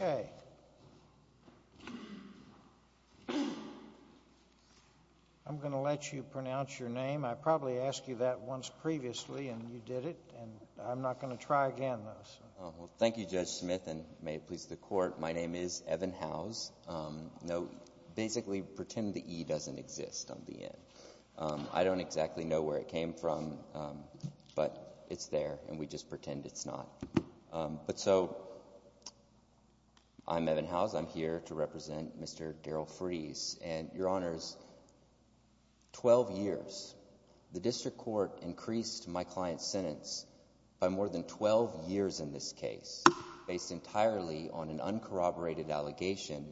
Okay. I'm going to let you pronounce your name. I probably asked you that once previously and you did it and I'm not going to try again, though, so. Evan Howes Well, thank you, Judge Smith, and may it please the Court, my name is Evan Howes. Basically, pretend the E doesn't exist on the N. I don't exactly know where it came from, but it's there and we just pretend it's not. But so, I'm Evan Howes. I'm here to represent Mr. Darrell Freeze. And, Your Honors, 12 years, the District Court increased my client's sentence by more than 12 years in this case, based entirely on an uncorroborated allegation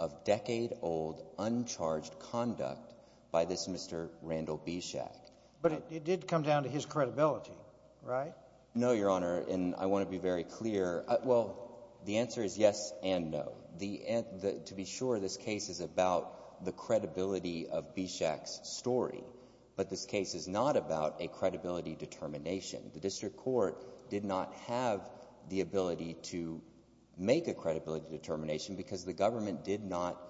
of decade-old, uncharged conduct by this Mr. Randall Bishak. Judge Smith But it did come down to his credibility, right? Evan Howes No, Your Honor, and I want to be very clear. Well, the answer is yes and no. To be sure, this case is about the credibility of Bishak's story, but this case is not about a credibility determination. The District Court did not have the ability to make a credibility determination because the government did not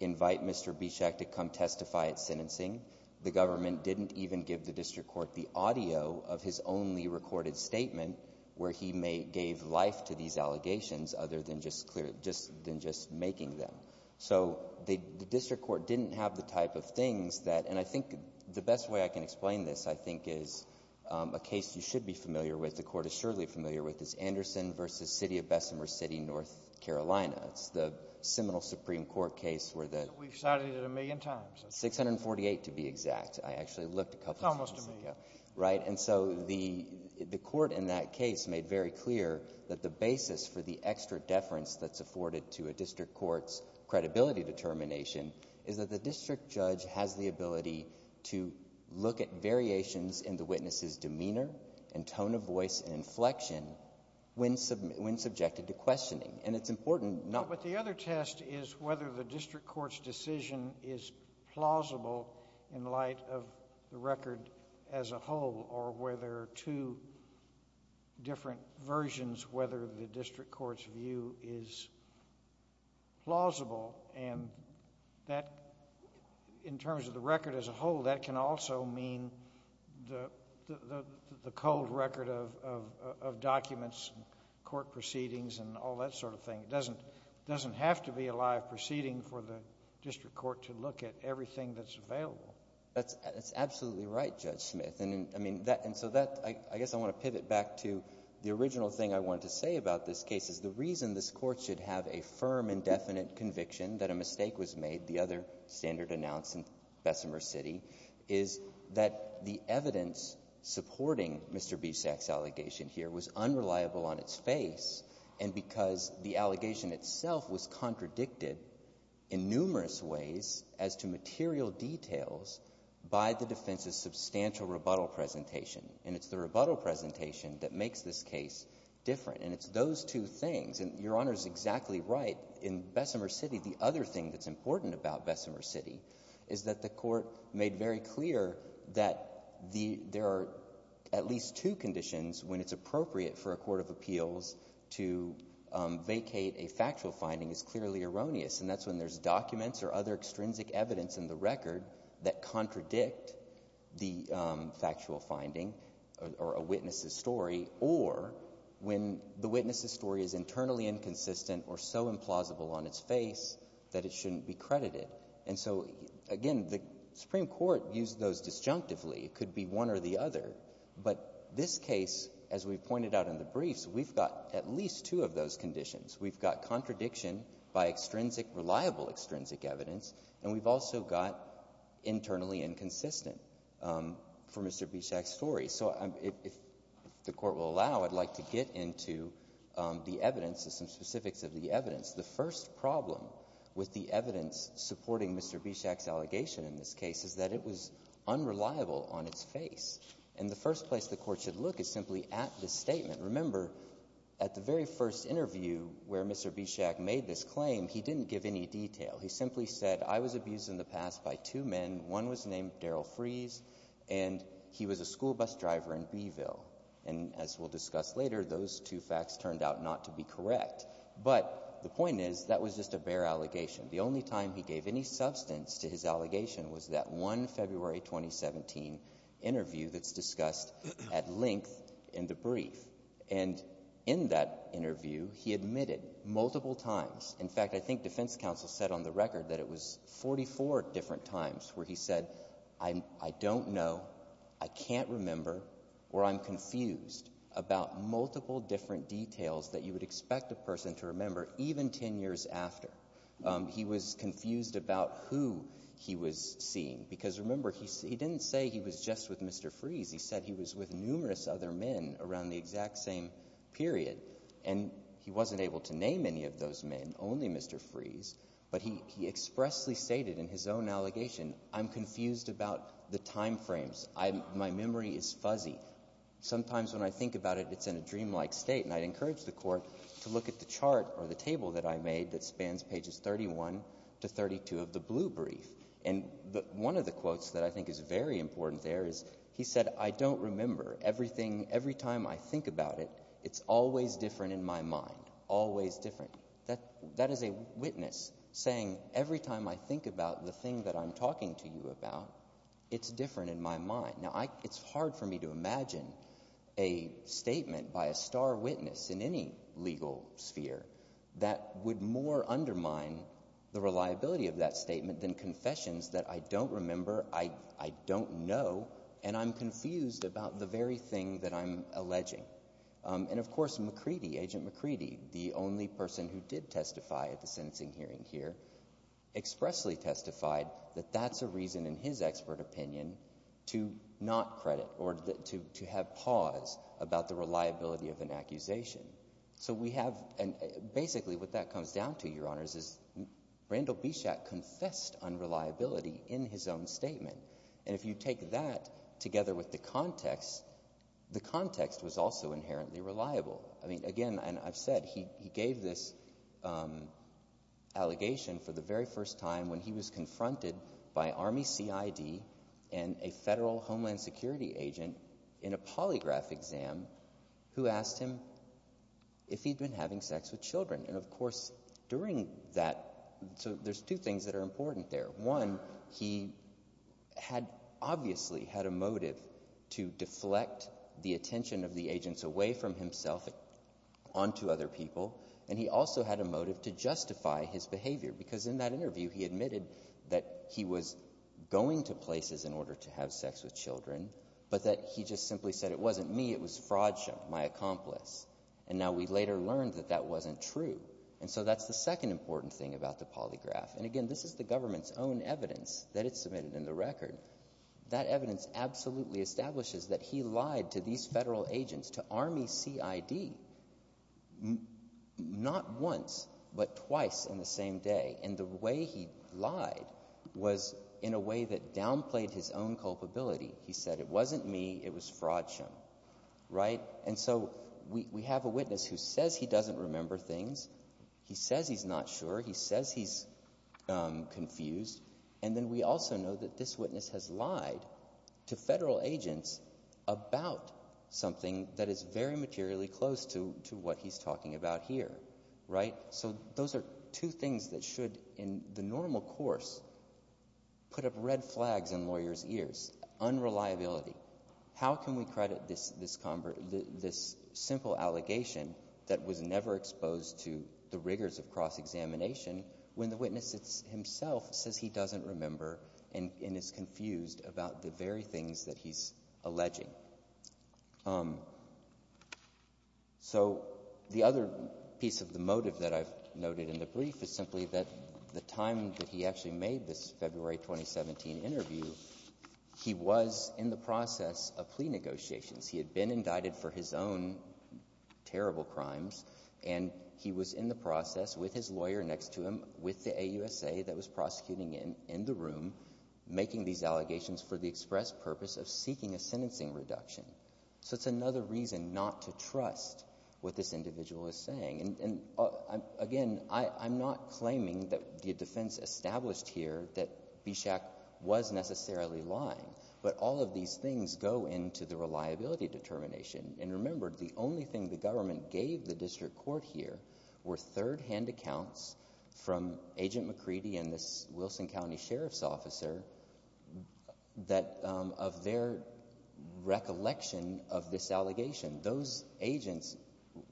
invite Mr. Bishak to come testify at sentencing. The government didn't even give the District Court the audio of his only recorded statement where he gave life to these allegations other than just making them. So, the District Court didn't have the type of things that, and I think the best way I can explain this, I think, is a case you should be familiar with, the Court is surely familiar with, is Anderson v. City of Bessemer City, North Carolina. It's the Seminole Supreme Court case where the— Judge Smith We've cited it a million times. Evan Howes 648 to be exact. I actually looked a couple times. Judge Smith It's almost a million. Evan Howes Right? And so the Court in that case made very clear that the basis for the extra deference that's afforded to a District Court's credibility determination is that the District Judge has the ability to look at variations in the witness's demeanor and tone of voice and inflection when subjected to questioning. And it's important not— Judge Smith But the other test is whether the District Court's decision is plausible in light of the record as a whole or whether two different versions, whether the District Court's view is plausible and that, in terms of the record as a whole, that can also mean the cold record of documents, court proceedings, and all that sort of thing. It doesn't have to be a live proceeding for the District Court to look at everything that's available. Evan Howes That's absolutely right, Judge Smith. And the final thing I wanted to say about this case is the reason this Court should have a firm and definite conviction that a mistake was made, the other standard announced in Bessemer City, is that the evidence supporting Mr. Bisak's allegation here was unreliable on its face and because the allegation itself was contradicted in numerous ways as to material details by the defense's substantial rebuttal presentation. And it's the rebuttal presentation that makes this case different. And it's those two things. And Your Honor is exactly right. In Bessemer City, the other thing that's important about Bessemer City is that the Court made very clear that there are at least two conditions when it's appropriate for a court of appeals to vacate a factual finding is clearly erroneous, and that's when there's documents or other extrinsic evidence in the record that contradict the factual finding or a witness's story, or when the witness's story is internally inconsistent or so implausible on its face that it shouldn't be credited. And so, again, the Supreme Court used those disjunctively. It could be one or the other. But this case, as we've pointed out in the briefs, we've got at least two of those conditions. We've got contradiction by extrinsic, reliable extrinsic evidence, and we've also got internally inconsistent for Mr. Bischak's story. So if the Court will allow, I'd like to get into the evidence and some specifics of the evidence. The first problem with the evidence supporting Mr. Bischak's allegation in this case is that it was unreliable on its face. And the first place the Court should look is simply at the statement. Remember, at the very first interview where Mr. Bischak made this claim, he didn't give any detail. He simply said, I was abused in the past by two men. One was named Daryl Freese, and he was a school bus driver in Beeville. And as we'll discuss later, those two facts turned out not to be correct. But the point is, that was just a bare allegation. The only time he gave any substance to his allegation was that one February 2017 interview that's discussed at length in the brief. And in that interview, he admitted multiple times. In fact, I think defense counsel said on the record that it was 44 different times where he said, I don't know, I can't remember, or I'm confused about multiple different details that you would expect a person to remember, even ten years after. He was confused about who he was seeing. Because remember, he didn't say he was just with Mr. Freese. He said he was with numerous other men around the exact same period. And he wasn't able to name any of those men, only Mr. Freese. But he expressly stated in his own allegation, I'm confused about the time frames. My memory is fuzzy. Sometimes when I think about it, it's in a dreamlike state. And I'd encourage the Court to look at the chart or the table that I made that spans pages 31 to 32 of the blue brief. And one of the quotes that I think is very important there is, he said, I don't remember. Everything, every time I think about it, it's always different in my mind. Always different. That is a witness saying, every time I think about the thing that I'm talking to you about, it's different in my mind. Now, it's hard for me to imagine a statement by a star witness in any legal sphere that would more undermine the reliability of that statement than confessions that I don't remember, I don't know, and I'm McCready, the only person who did testify at the sentencing hearing here, expressly testified that that's a reason, in his expert opinion, to not credit or to have pause about the reliability of an accusation. So we have, and basically what that comes down to, Your Honors, is Randall Bishak confessed unreliability in his own statement. And if you take that together with the context, the context was also inherently reliable. I mean, again, and I've said, he gave this allegation for the very first time when he was confronted by Army CID and a federal Homeland Security agent in a polygraph exam who asked him if he'd been having sex with children. And of course, during that, so there's two things that are important there. One, he had obviously had a motive to deflect the attention of the agents away from himself onto other people, and he also had a motive to justify his behavior. Because in that interview, he admitted that he was going to places in order to have sex with children, but that he just simply said, it wasn't me, it was Frodsham, my accomplice. And now we later learned that that wasn't true. And so that's the second important thing about the polygraph. And again, this is the government's own evidence that it's submitted in the record. That evidence absolutely establishes that he lied to these federal agents, to Army CID, not once, but twice in the same day. And the way he lied was in a way that downplayed his own culpability. He said, it wasn't me, it was Frodsham. Right? And so we have a witness who says he doesn't remember things, he says he's not sure, he says he's confused, and then we also know that this witness has lied to federal agents about something that is very materially close to what he's talking about here. Right? So those are two things that should, in the normal course, put up red flags in lawyers' ears. Unreliability. How can we credit this simple allegation that was never exposed to the rigors of cross-examination when the witness himself says he doesn't remember and is confused about the very things that he's alleging? So the other piece of the motive that I've noted in the brief is simply that the time that he actually made this February 2017 interview, he was in the process of plea negotiations. He had been indicted for his own terrible crimes, and he was in the process with his lawyer next to him, with the AUSA that was prosecuting him, in the room, making these allegations for the express purpose of seeking a sentencing reduction. So it's another reason not to trust what this individual is saying. And again, I'm not claiming that the defense established here that Bishak was necessarily lying, but all of these things go into the reliability determination. And remember, the only thing the government gave the district court here were third-hand accounts from Agent McCready and this Wilson County Sheriff's Officer that, of their recollection of this allegation. Those agents,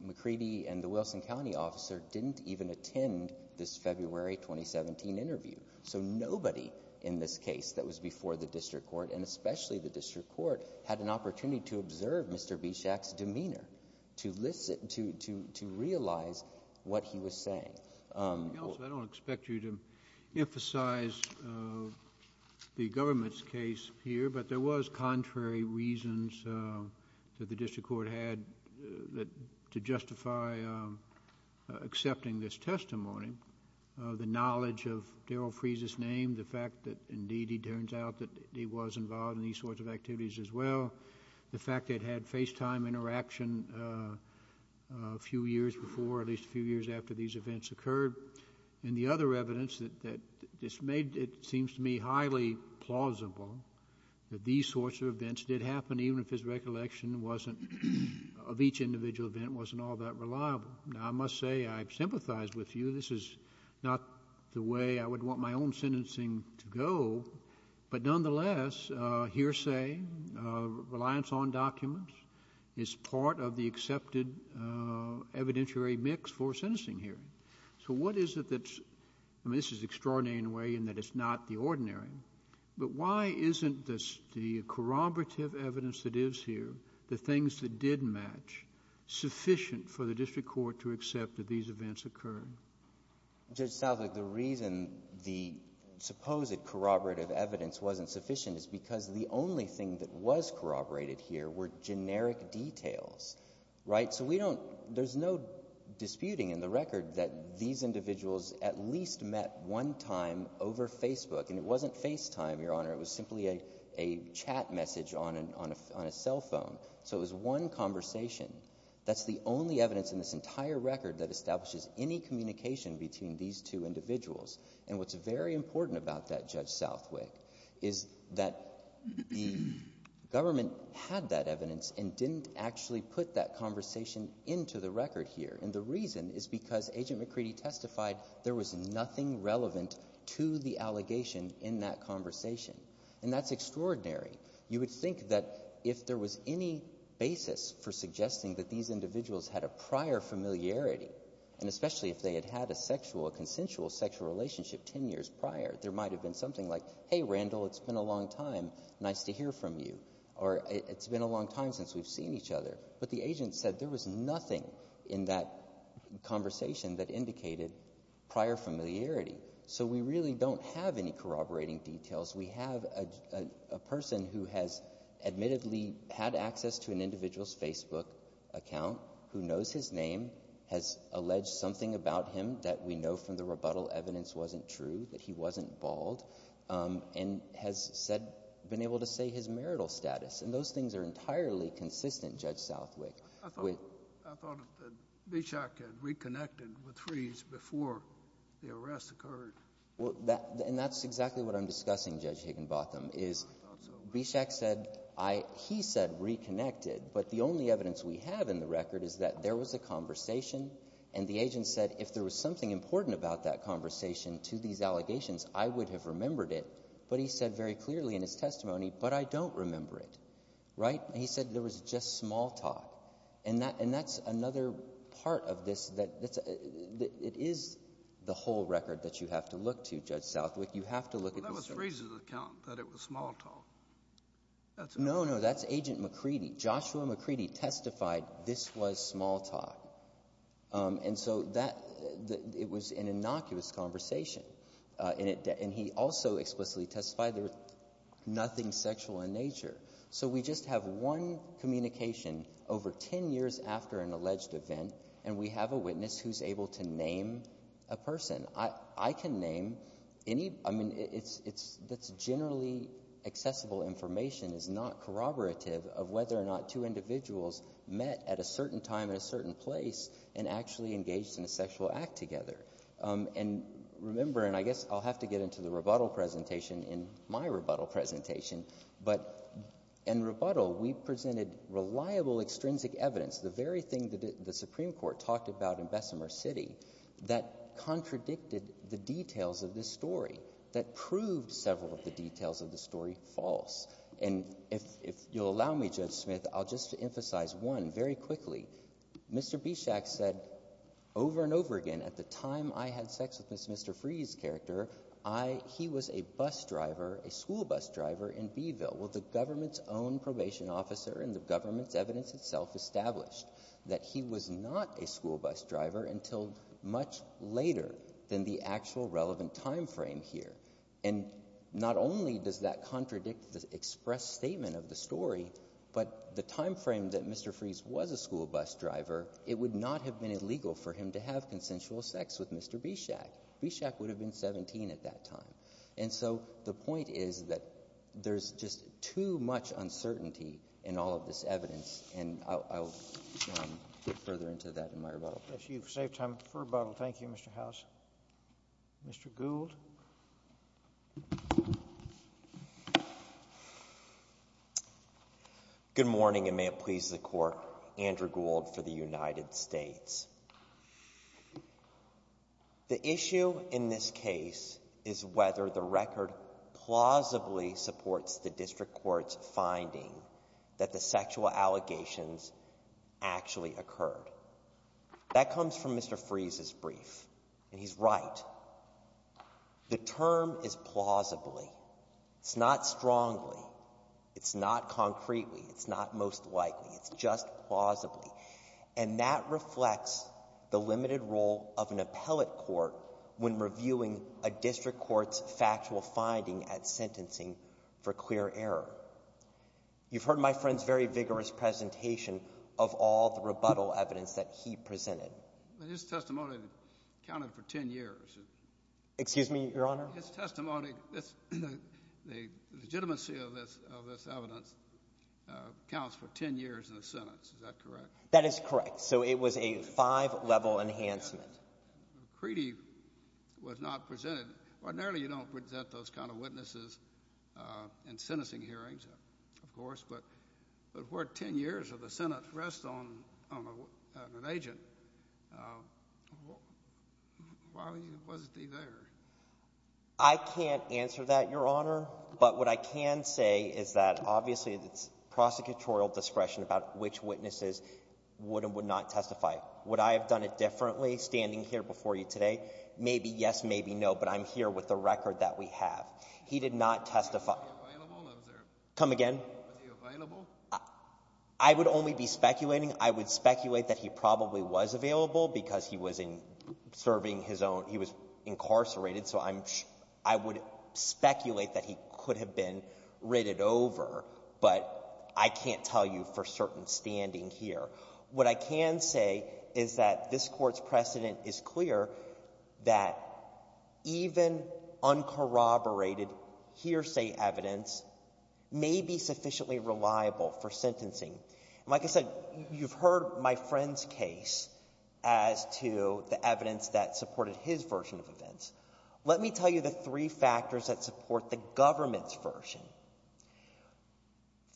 McCready and the Wilson County Officer, didn't even attend this February 2017 interview. So nobody in this case that was before the district court, and especially the district court, had an opportunity to observe Mr. Bishak's demeanor, to realize what he was saying. Counsel, I don't expect you to emphasize the government's case here, but there was contrary reasons that the district court had to justify accepting this testimony. The knowledge of Daryl Freese's name, the fact that, indeed, he turns out that he was involved in these sorts of activities as well. The fact that he had FaceTime interaction a few years before, at least a few years after these events occurred. And the other evidence that this made, it happened even if his recollection wasn't, of each individual event, wasn't all that reliable. Now, I must say, I sympathize with you. This is not the way I would want my own sentencing to go, but nonetheless, hearsay, reliance on documents, is part of the accepted evidentiary mix for a sentencing hearing. So what is it that's, I mean, this is extraordinary in a way in that it's not the ordinary, but why isn't this, the corroborative evidence that is here, the things that did match, sufficient for the district court to accept that these events occurred? Judge Southwick, the reason the supposed corroborative evidence wasn't sufficient is because the only thing that was corroborated here were generic details, right? So we don't, there's no disputing in the record that these individuals at least met one time over Facebook, and it wasn't FaceTime, Your Honor, it was simply a chat message on a cell phone. So it was one conversation. That's the only evidence in this entire record that establishes any communication between these two individuals. And what's very important about that, Judge Southwick, is that the government had that evidence and didn't actually put that conversation into the record here. And the reason is because Agent McCready testified there was nothing relevant to the allegation in that conversation. And that's extraordinary. You would think that if there was any basis for suggesting that these individuals had a prior familiarity, and especially if they had had a sexual, a consensual sexual relationship ten years prior, there might have been something like, hey, Randall, it's been a long time, nice to hear from you, or it's been a long time since we've seen each other. But the agent said there was nothing in that conversation that indicated prior familiarity. So we really don't have any corroborating details. We have a person who has admittedly had access to an individual's Facebook account, who knows his name, has alleged something about him that we know from the rebuttal evidence wasn't true, that he wasn't bald, and has said, been able to say his marital status. And those things are entirely consistent, Judge Southwick. I thought that Bischak had reconnected with Freese before the arrest occurred. And that's exactly what I'm discussing, Judge Higginbotham, is Bischak said, I — he said reconnected. But the only evidence we have in the record is that there was a conversation and the agent said if there was something important about that conversation to these allegations, I would have remembered it. But he said very clearly in his testimony, but I don't remember it. Right? And he said there was just small talk. And that's another part of this that — it is the whole record that you have to look to, Judge Southwick. You have to look at the — Well, that was Freese's account, that it was small talk. That's — No, no. That's Agent McCready. Joshua McCready testified this was small talk. And so that it was an innocuous conversation. And he also explicitly testified there was nothing sexual in nature. So we just have one communication over 10 years after an alleged event, and we have a witness who's able to name a person. I can name any — I mean, it's — that's generally accessible information. It's not corroborative of whether or not two individuals met at a certain time in a certain place and actually engaged in a sexual act together. And remember — and I guess I'll have to get into the rebuttal presentation in my rebuttal presentation — but in rebuttal, we presented reliable, extrinsic evidence, the very thing that the Supreme Court talked about in Bessemer City, that contradicted the details of this story, that proved several of the details of the story false. And if you'll allow me, Judge Smith, I'll just emphasize one very quickly. Mr. Bischak said over and over again at the time I had sex with Ms. — Mr. Freeh's character, I — he was a bus driver, a school bus driver in Beeville. Well, the government's own probation officer and the government's evidence itself established that he was not a school bus driver until much later than the actual relevant timeframe here. And not only does that contradict the express statement of the story, but the timeframe that Mr. Freeh's was a school bus driver, it would not have been illegal for him to have consensual sex with Mr. Bischak. Bischak would have been 17 at that time. And so the point is that there's just too much uncertainty in all of this evidence, and I'll get further into that in my rebuttal. I'll bless you. You've saved time for rebuttal. Thank you, Mr. House. Mr. Gould? Good morning, and may it please the Court, Andrew Gould for the United States. The issue in this case is whether the record plausibly supports the district court's finding that the sexual allegations actually occurred. That comes from Mr. Freeh's brief, and he's right. The term is plausibly. It's not strongly. It's not concretely. It's not most likely. It's just plausibly. And that reflects the limited role of an appellate court when reviewing a district court's factual finding at sentencing for clear error. You've heard my friend's very vigorous presentation of all the rebuttal evidence that he presented. But his testimony counted for 10 years. Excuse me, Your Honor? His testimony, the legitimacy of this evidence counts for 10 years in the Senate. Is that correct? That is correct. So it was a five-level enhancement. The treaty was not presented. Ordinarily, you don't present those kind of witnesses in sentencing hearings, of course. But if it weren't 10 years of the Senate's rest on an agent, why wasn't he there? I can't answer that, Your Honor. But what I can say is that, obviously, it's prosecutorial discretion about which witnesses would and would not testify. Would I have done it differently standing here before you today? Maybe yes, maybe no. But I'm here with the record that we have. He did not testify. Was he available? Come again? Was he available? I would only be speculating. I would speculate that he probably was available because he was serving his own — he was incarcerated. So I'm — I would speculate that he could have been ridded over. But I can't tell you for certain standing here. What I can say is that this Court's precedent is clear that even uncorroborated hearsay evidence may be sufficiently reliable for sentencing. And like I said, you've heard my friend's case as to the evidence that supported his version of events. Let me tell you the three factors that support the government's version.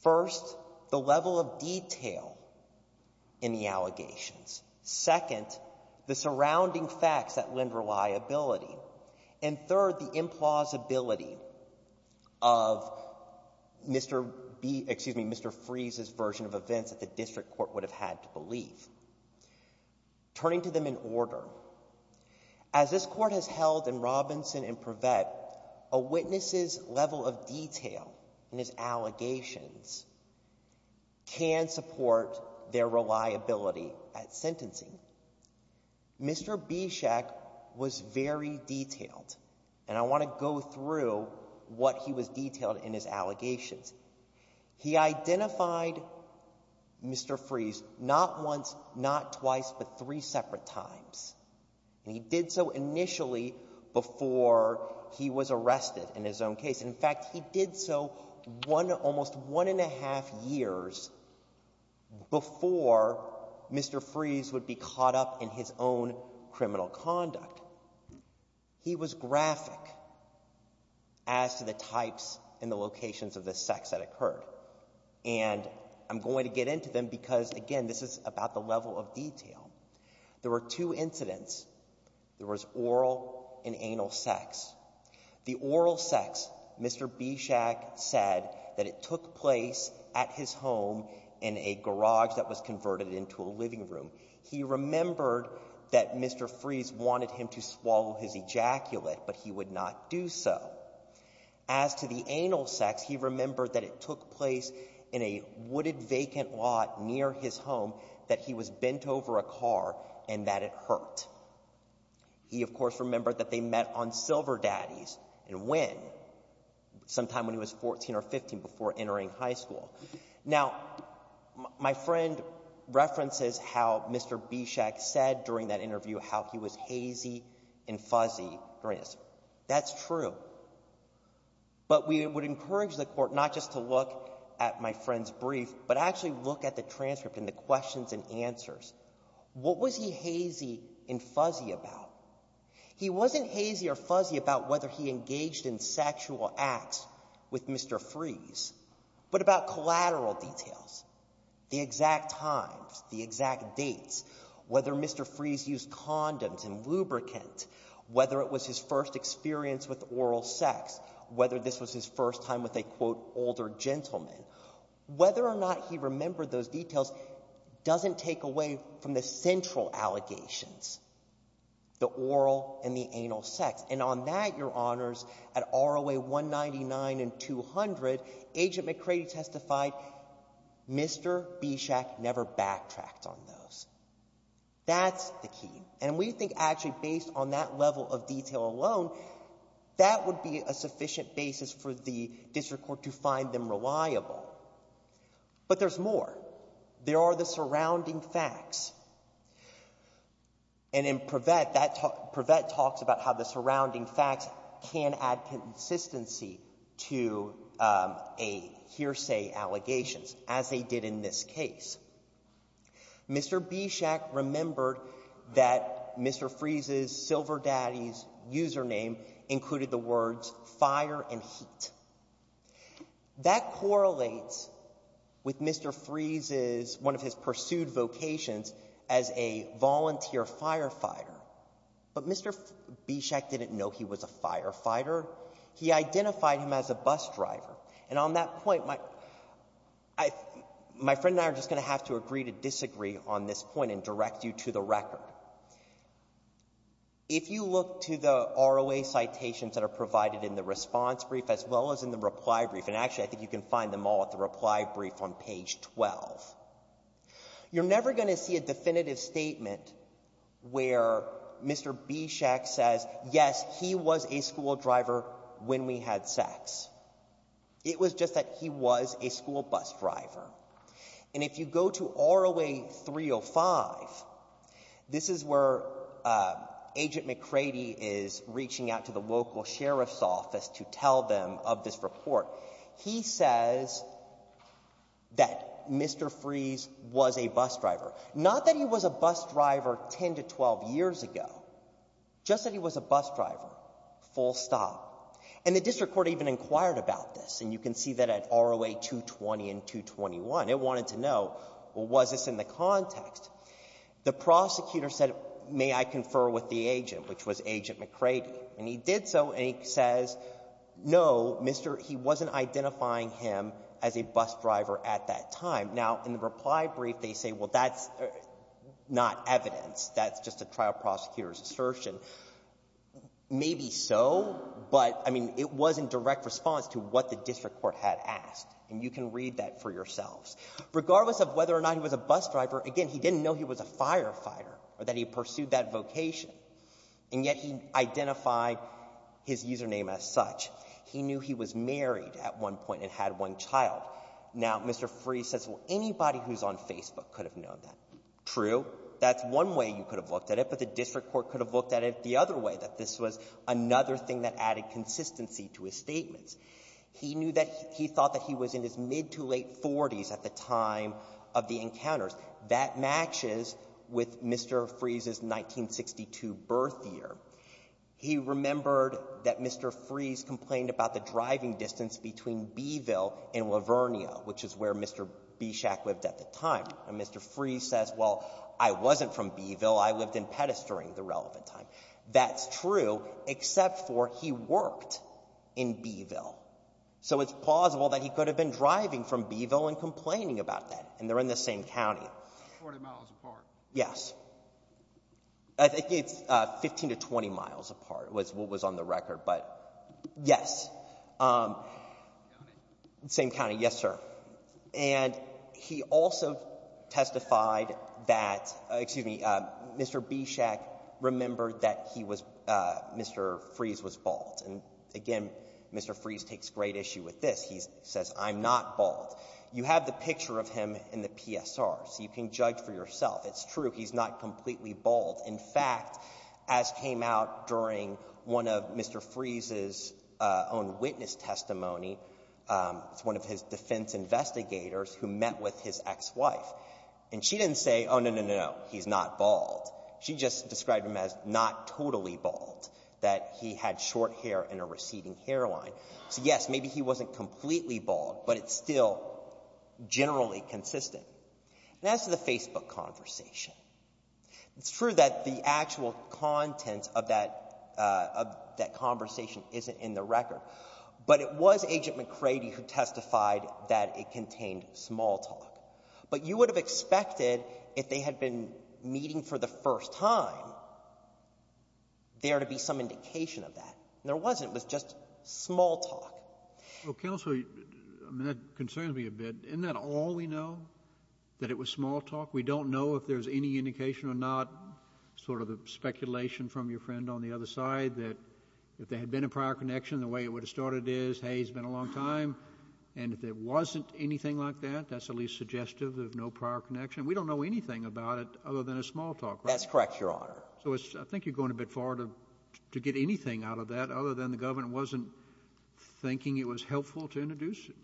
First, the level of detail in the allegations. Second, the surrounding facts that lend reliability. And third, the implausibility of Mr. B — excuse me, Mr. Freeze's version of events that the district court would have had to believe. Turning to them in order, as this Court has held in Robinson and Prevett, a witness's level of detail in his allegations can support their reliability at sentencing. Mr. Bieshek was very detailed. And I want to go through what he was detailed in his allegations. He identified Mr. Freeze not once, not twice, but three separate times. And he did so initially before he was arrested in his own case. In fact, he did so one — almost one and a half years before Mr. Freeze would be caught up in his own criminal conduct. He was graphic as to the types and the locations of the sex that occurred. And I'm going to get into them because, again, this is about the level of detail. There were two incidents. There was oral and anal sex. The oral sex, Mr. Bieshek said that it took place at his home in a garage that was converted into a living room. He remembered that Mr. Freeze wanted him to swallow his ejaculate, but he would not do so. As to the anal sex, he remembered that it took place in a wooded vacant lot near his home, that he was bent over a car, and that it hurt. He, of course, remembered that they met on Silver Daddies and went sometime when he was 14 or 15 before entering high school. Now, my friend references how Mr. Bieshek said during that interview how he was hazy and fuzzy during this. That's true. But we would encourage the court not just to look at my friend's brief, but actually look at the transcript and the questions and answers. What was he hazy and fuzzy about? He wasn't hazy or fuzzy about whether he engaged in sexual acts with Mr. Freeze, but about collateral details, the exact times, the exact dates, whether Mr. Freeze used condoms and lubricant, whether it was his first experience with oral sex, whether this was his first time with a, quote, older gentleman. Whether or not he remembered those details doesn't take away from the central allegations, the oral and the anal sex. And on that, Your Honors, at ROA 199 and 200, Agent McCready testified Mr. Bieshek never backtracked on those. That's the key. And we think actually based on that level of detail alone, that would be a sufficient basis for the district court to find them reliable. But there's more. There are the surrounding facts. And in Prevet, that, Prevet talks about how the surrounding facts can add consistency to a hearsay allegations, as they did in this case. Mr. Bieshek remembered that Mr. Freeze's Silver Daddy's username included the words fire and heat. That correlates with Mr. Freeze's, one of his pursued vocations as a volunteer firefighter. But Mr. Bieshek didn't know he was a firefighter. He identified him as a bus driver. And on that point, my friend and I are just going to have to agree to disagree on this point and direct you to the record. If you look to the ROA citations that are provided in the response brief as well as in the reply brief, and actually I think you can find them all at the reply brief on page 12, you're never going to see a definitive statement where Mr. Bieshek says, yes, he was a school driver when we had sex. It was just that he was a school bus driver. And if you go to ROA 305, this is where Agent McCready is reaching out to the local sheriff's office to tell them of this report. He says that Mr. Freeze was a bus driver. Not that he was a bus driver 10 to 12 years ago, just that he was a bus driver, full stop. And the district court even inquired about this, and you can see that at ROA 220 and 221. It wanted to know, well, was this in the context? The prosecutor said, may I confer with the agent, which was Agent McCready. And he did so, and he says, no, Mr. — he wasn't identifying him as a bus driver at that time. Now, in the reply brief, they say, well, that's not evidence. That's just a trial prosecutor's assertion. Maybe so, but, I mean, it was in direct response to what the district court had asked, and you can read that for yourselves. Regardless of whether or not he was a bus driver, again, he didn't know he was a firefighter or that he pursued that vocation, and yet he identified his username as such. He knew he was married at one point and had one child. Now, Mr. Fries says, well, anybody who's on Facebook could have known that. True. That's one way you could have looked at it, but the district court could have looked at it the other way, that this was another thing that added consistency to his statements. He knew that — he thought that he was in his mid-to-late 40s at the time of the encounters. That matches with Mr. Fries' 1962 birth year. He remembered that Mr. Fries complained about the driving distance between B-Ville and La Vernia, which is where Mr. Bischak lived at the time. And Mr. Fries says, well, I wasn't from B-Ville. I lived in Pedestrian the relevant time. That's true, except for he worked in B-Ville. So it's plausible that he could have been driving from B-Ville and complaining about that, and they're in the same county. Forty miles apart. Yes. I think it's 15 to 20 miles apart was what was on the record, but yes. The same county. The same county, yes, sir. And he also testified that — excuse me, Mr. Bischak remembered that he was — Mr. Fries was bald. And again, Mr. Fries takes great issue with this. He says, I'm not bald. You have the picture of him in the PSR, so you can judge for yourself. It's true. He's not completely bald. In fact, as came out during one of Mr. Fries's own witness testimony, it's one of his defense investigators who met with his ex-wife. And she didn't say, oh, no, no, no, no, he's not bald. She just described him as not totally bald, that he had short hair and a receding hairline. So, yes, maybe he wasn't completely bald, but it's still generally consistent. And as to the Facebook conversation, it's true that the actual contents of that conversation isn't in the record, but it was Agent McCready who testified that it contained small talk. But you would have expected, if they had been meeting for the first time, there to be some indication of that. And there wasn't. It was just small talk. Well, Counselor, that concerns me a bit. Isn't that all we know, that it was small talk? We don't know if there's any indication or not, sort of a speculation from your friend on the other side, that if there had been a prior connection, the way it would have started is, hey, it's been a long time. And if there wasn't anything like that, that's at least suggestive of no prior connection. We don't know anything about it other than a small talk. That's correct, Your Honor. So I think you're going a bit far to get anything out of that, other than the government wasn't thinking it was helpful to introduce it.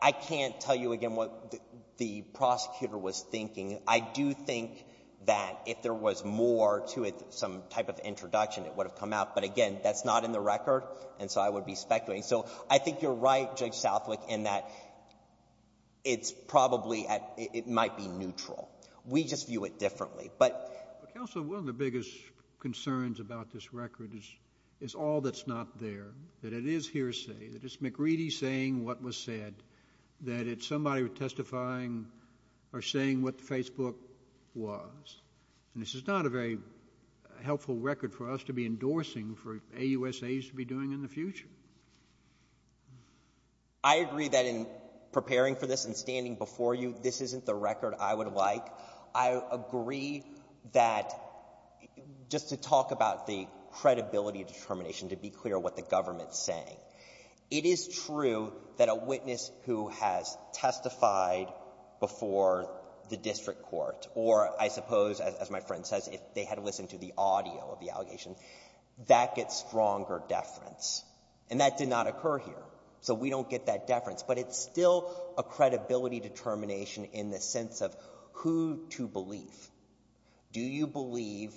I can't tell you again what the prosecutor was thinking. I do think that if there was more to it, some type of introduction, it would have come out. But again, that's not in the record, and so I would be speculating. So I think you're right, Judge Southwick, in that it's probably at — it might be neutral. We just view it differently. But, Counsel, one of the biggest concerns about this record is all that's not there, that it is hearsay, that it's McReady saying what was said, that it's somebody testifying or saying what Facebook was. And this is not a very helpful record for us to be endorsing for AUSA's to be doing in the future. I agree that in preparing for this and standing before you, this isn't the record I would like. I agree that just to talk about the credibility determination, to be clear what the government's saying, it is true that a witness who has testified before the district court or, I suppose, as my friend says, if they had listened to the audio of the allegation, that gets stronger deference. And that did not occur here. So we don't get that deference. But it's still a credibility determination in the sense of who to believe. Do you believe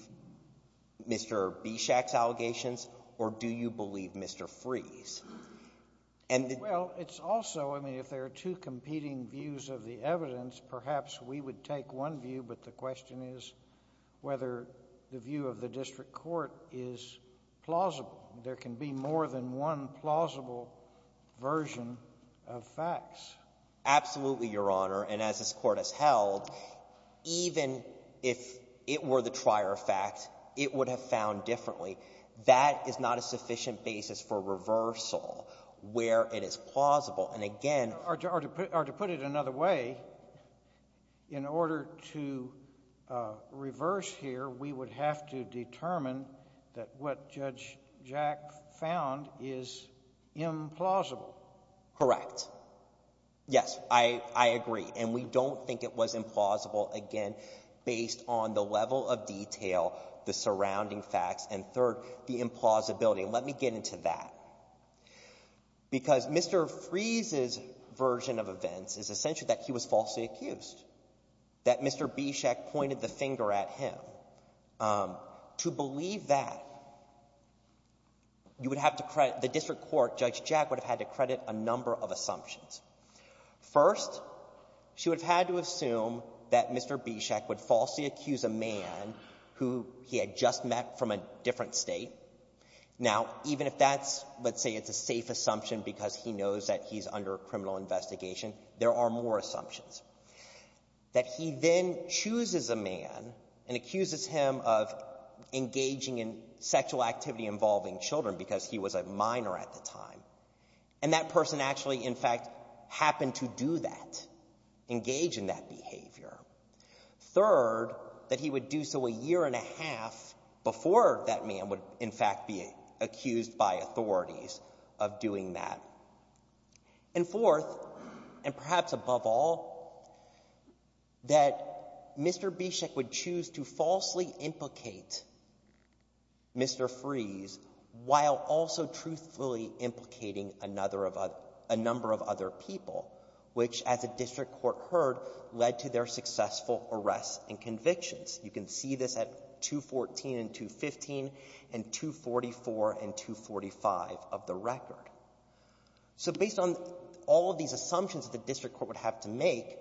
Mr. Bishak's allegations or do you believe Mr. Freese? Well, it's also — I mean, if there are two competing views of the evidence, perhaps we would take one view, but the question is whether the view of the district court is more than one plausible version of facts. Absolutely, Your Honor. And as this Court has held, even if it were the trier fact, it would have found differently. That is not a sufficient basis for reversal where it is plausible. And again — Or to put it another way, in order to reverse here, we would have to determine that what Jack found is implausible. Correct. Yes, I agree. And we don't think it was implausible, again, based on the level of detail, the surrounding facts, and third, the implausibility. And let me get into that. Because Mr. Freese's version of events is essentially that he was falsely accused, that you would have to credit — the district court, Judge Jack, would have had to credit a number of assumptions. First, she would have had to assume that Mr. Bishak would falsely accuse a man who he had just met from a different State. Now, even if that's — let's say it's a safe assumption because he knows that he's under criminal investigation, there are more assumptions. That he then chooses a man and accuses him of engaging in sexual activity involving children because he was a minor at the time. And that person actually, in fact, happened to do that, engage in that behavior. Third, that he would do so a year and a half before that man would, in fact, be accused by authorities of doing that. And fourth, and perhaps above all, that Mr. Bishak would choose to falsely implicate Mr. Freese while also truthfully implicating another of — a number of other people, which, as the district court heard, led to their successful arrests and convictions. You can see this at 214 and 215 and 244 and 245 of the record. So based on all of these assumptions that the district court would have to make,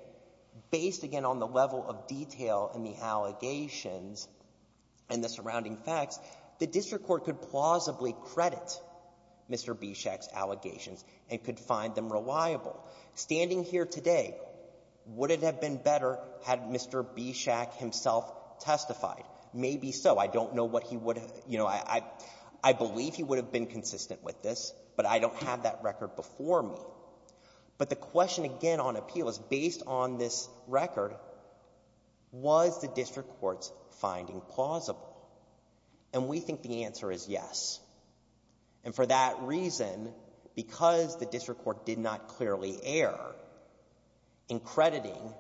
based, again, on the level of detail in the allegations and the surrounding facts, the district court could plausibly credit Mr. Bishak's allegations and could find them reliable. Standing here today, would it have been better had Mr. Bishak himself testified? Maybe so. I don't know what he would have — you know, I believe he would have been consistent with this, but I don't have that record before me. But the question, again, on appeal is, based on this record, was the district court's finding plausible? And we think the answer is yes. And for that reason, because the district court did not clearly err in crediting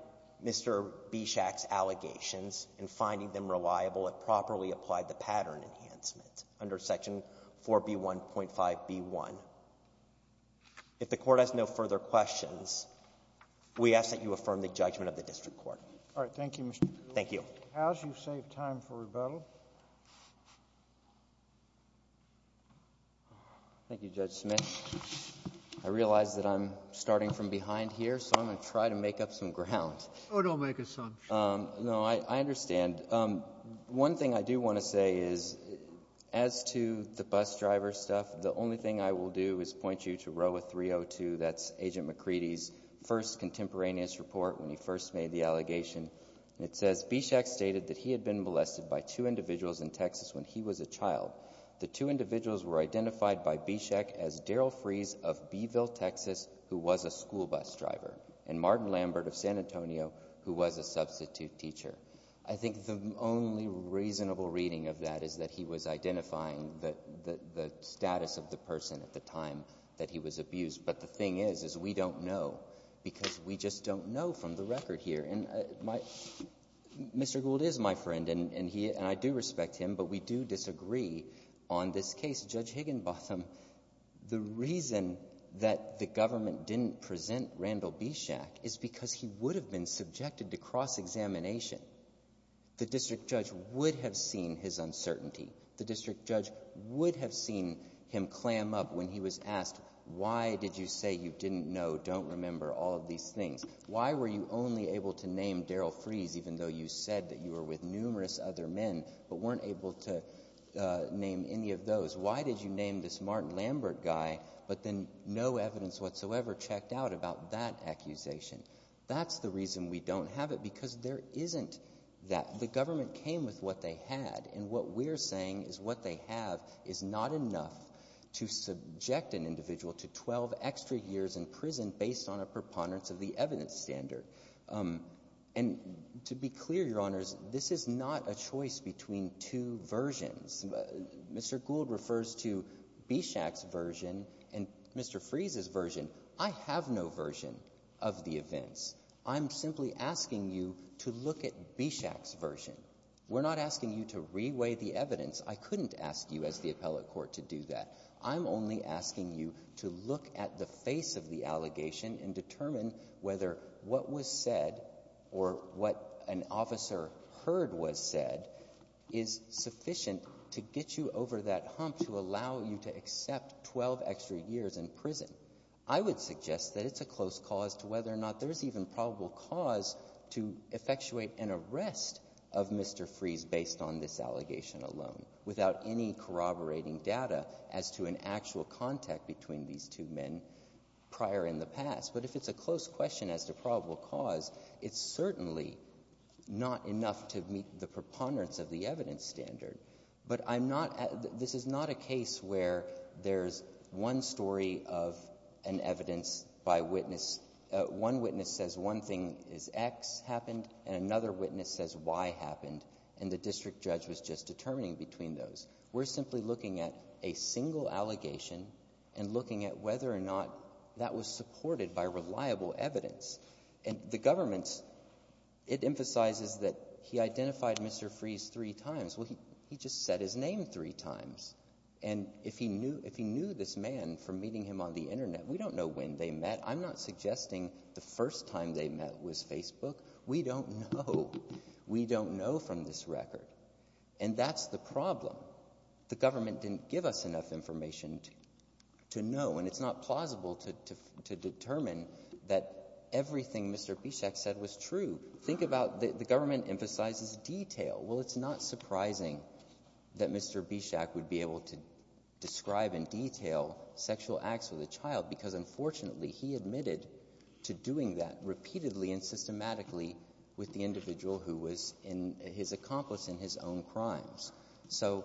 Mr. Bishak's allegations and finding them reliable, it properly applied the pattern enhancement under Section 4B1.5b1. If the court has not no further questions, we ask that you affirm the judgment of the district court. All right. Thank you, Mr. Bishak. Thank you. As you save time for rebuttal. Thank you, Judge Smith. I realize that I'm starting from behind here, so I'm going to try to make up some ground. Oh, don't make assumptions. No, I understand. One thing I do want to say is, as to the bus driver stuff, the only thing I will do is point you to ROA 302. That's Agent McCready's first contemporaneous report when he first made the allegation. It says, Bishak stated that he had been molested by two individuals in Texas when he was a child. The two individuals were identified by Bishak as Daryl Freese of Beeville, Texas, who was a school bus driver, and Martin Lambert of San Antonio, who was a substitute teacher. I think the only reasonable reading of that is that he was identifying the status of the person at the time that he was abused. But the thing is, is we don't know, because we just don't know from the record here. Mr. Gould is my friend, and I do respect him, but we do disagree on this case. Judge Higginbotham, the reason that the government didn't present Randall Bishak is because he would have been The district judge would have seen him clam up when he was asked, why did you say you didn't know, don't remember, all of these things? Why were you only able to name Daryl Freese, even though you said that you were with numerous other men, but weren't able to name any of those? Why did you name this Martin Lambert guy, but then no evidence whatsoever checked out about that accusation? That's the reason we don't have it, because there isn't that. The government came with what they had, and what we're saying is what they have is not enough to subject an individual to 12 extra years in prison based on a preponderance of the evidence standard. And to be clear, Your Honors, this is not a choice between two versions. Mr. Gould refers to Bishak's version and Mr. Freese's version. I have no version of the events. I'm simply asking you to look at Bishak's version. We're not asking you to re-weigh the evidence. I couldn't ask you as the appellate court to do that. I'm only asking you to look at the face of the allegation and determine whether what was said or what an officer heard was said is sufficient to get you over that hump to allow you to accept 12 extra years in prison. I would suggest that it's a close cause to whether or not there's even probable cause to effectuate an arrest of Mr. Freese based on this allegation alone, without any corroborating data as to an actual contact between these two men prior in the past. But if it's a close question as to probable cause, it's certainly not enough to meet the preponderance of the evidence standard. But I'm not, this is not a case where there's one story of an evidence by witness. One witness says one thing is X happened and another witness says Y happened and the district judge was just determining between those. We're simply looking at a single allegation and looking at whether or not that was supported by reliable evidence. And the government, it emphasizes that he identified Mr. Freese three times. Well, he just said his name three times. And if he knew this man from meeting him on the internet, we don't know when they met. I'm not suggesting the first time they met was Facebook. We don't know. We don't know from this record. And that's the problem. The government didn't give us enough information to know. And it's not plausible to determine that everything Mr. Bishak said was true. Think about, the government emphasizes detail. Well, it's not surprising that Mr. Bishak would be able to describe in detail sexual acts with a child because unfortunately he admitted to doing that repeatedly and systematically with the individual who was his accomplice in his own crimes. So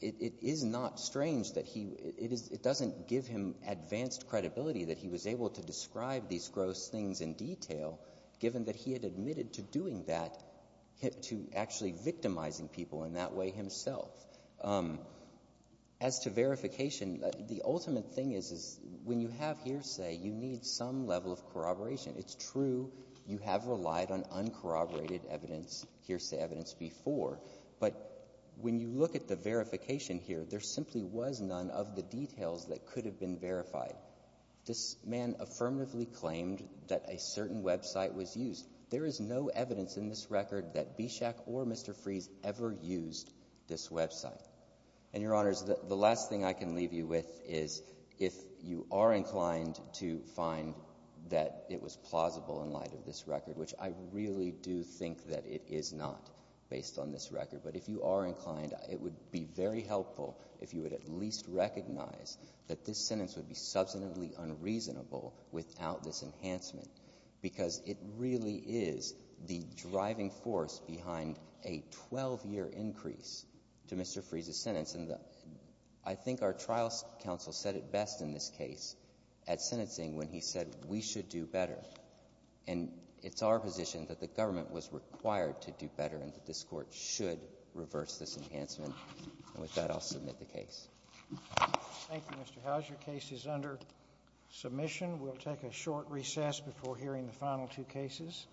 it is not strange that he, it doesn't give him advanced credibility that he was able to describe these gross things in detail given that he had admitted to doing that, to actually victimizing people in that way And if you have hearsay, you need some level of corroboration. It's true you have relied on uncorroborated evidence, hearsay evidence before. But when you look at the verification here, there simply was none of the details that could have been verified. This man affirmatively claimed that a certain website was used. There is no evidence in this record that Bishak or Mr. Freese ever used this website. And, Your Honors, the last thing I can leave you with is if you are inclined to find that it was plausible in light of this record, which I really do think that it is not based on this record, but if you are inclined, it would be very helpful if you would at least recognize that this sentence would be substantively unreasonable without this enhancement because it really is the driving force behind a 12-year increase to Mr. Freese's sentence. And I think our trial counsel said it best in this case at sentencing when he said we should do better. And it's our position that the government was required to do better and that this Court should reverse this enhancement. And with that, I'll submit the case. Thank you, Mr. Howes. Your case is under submission. We'll take a short recess before hearing the final two cases.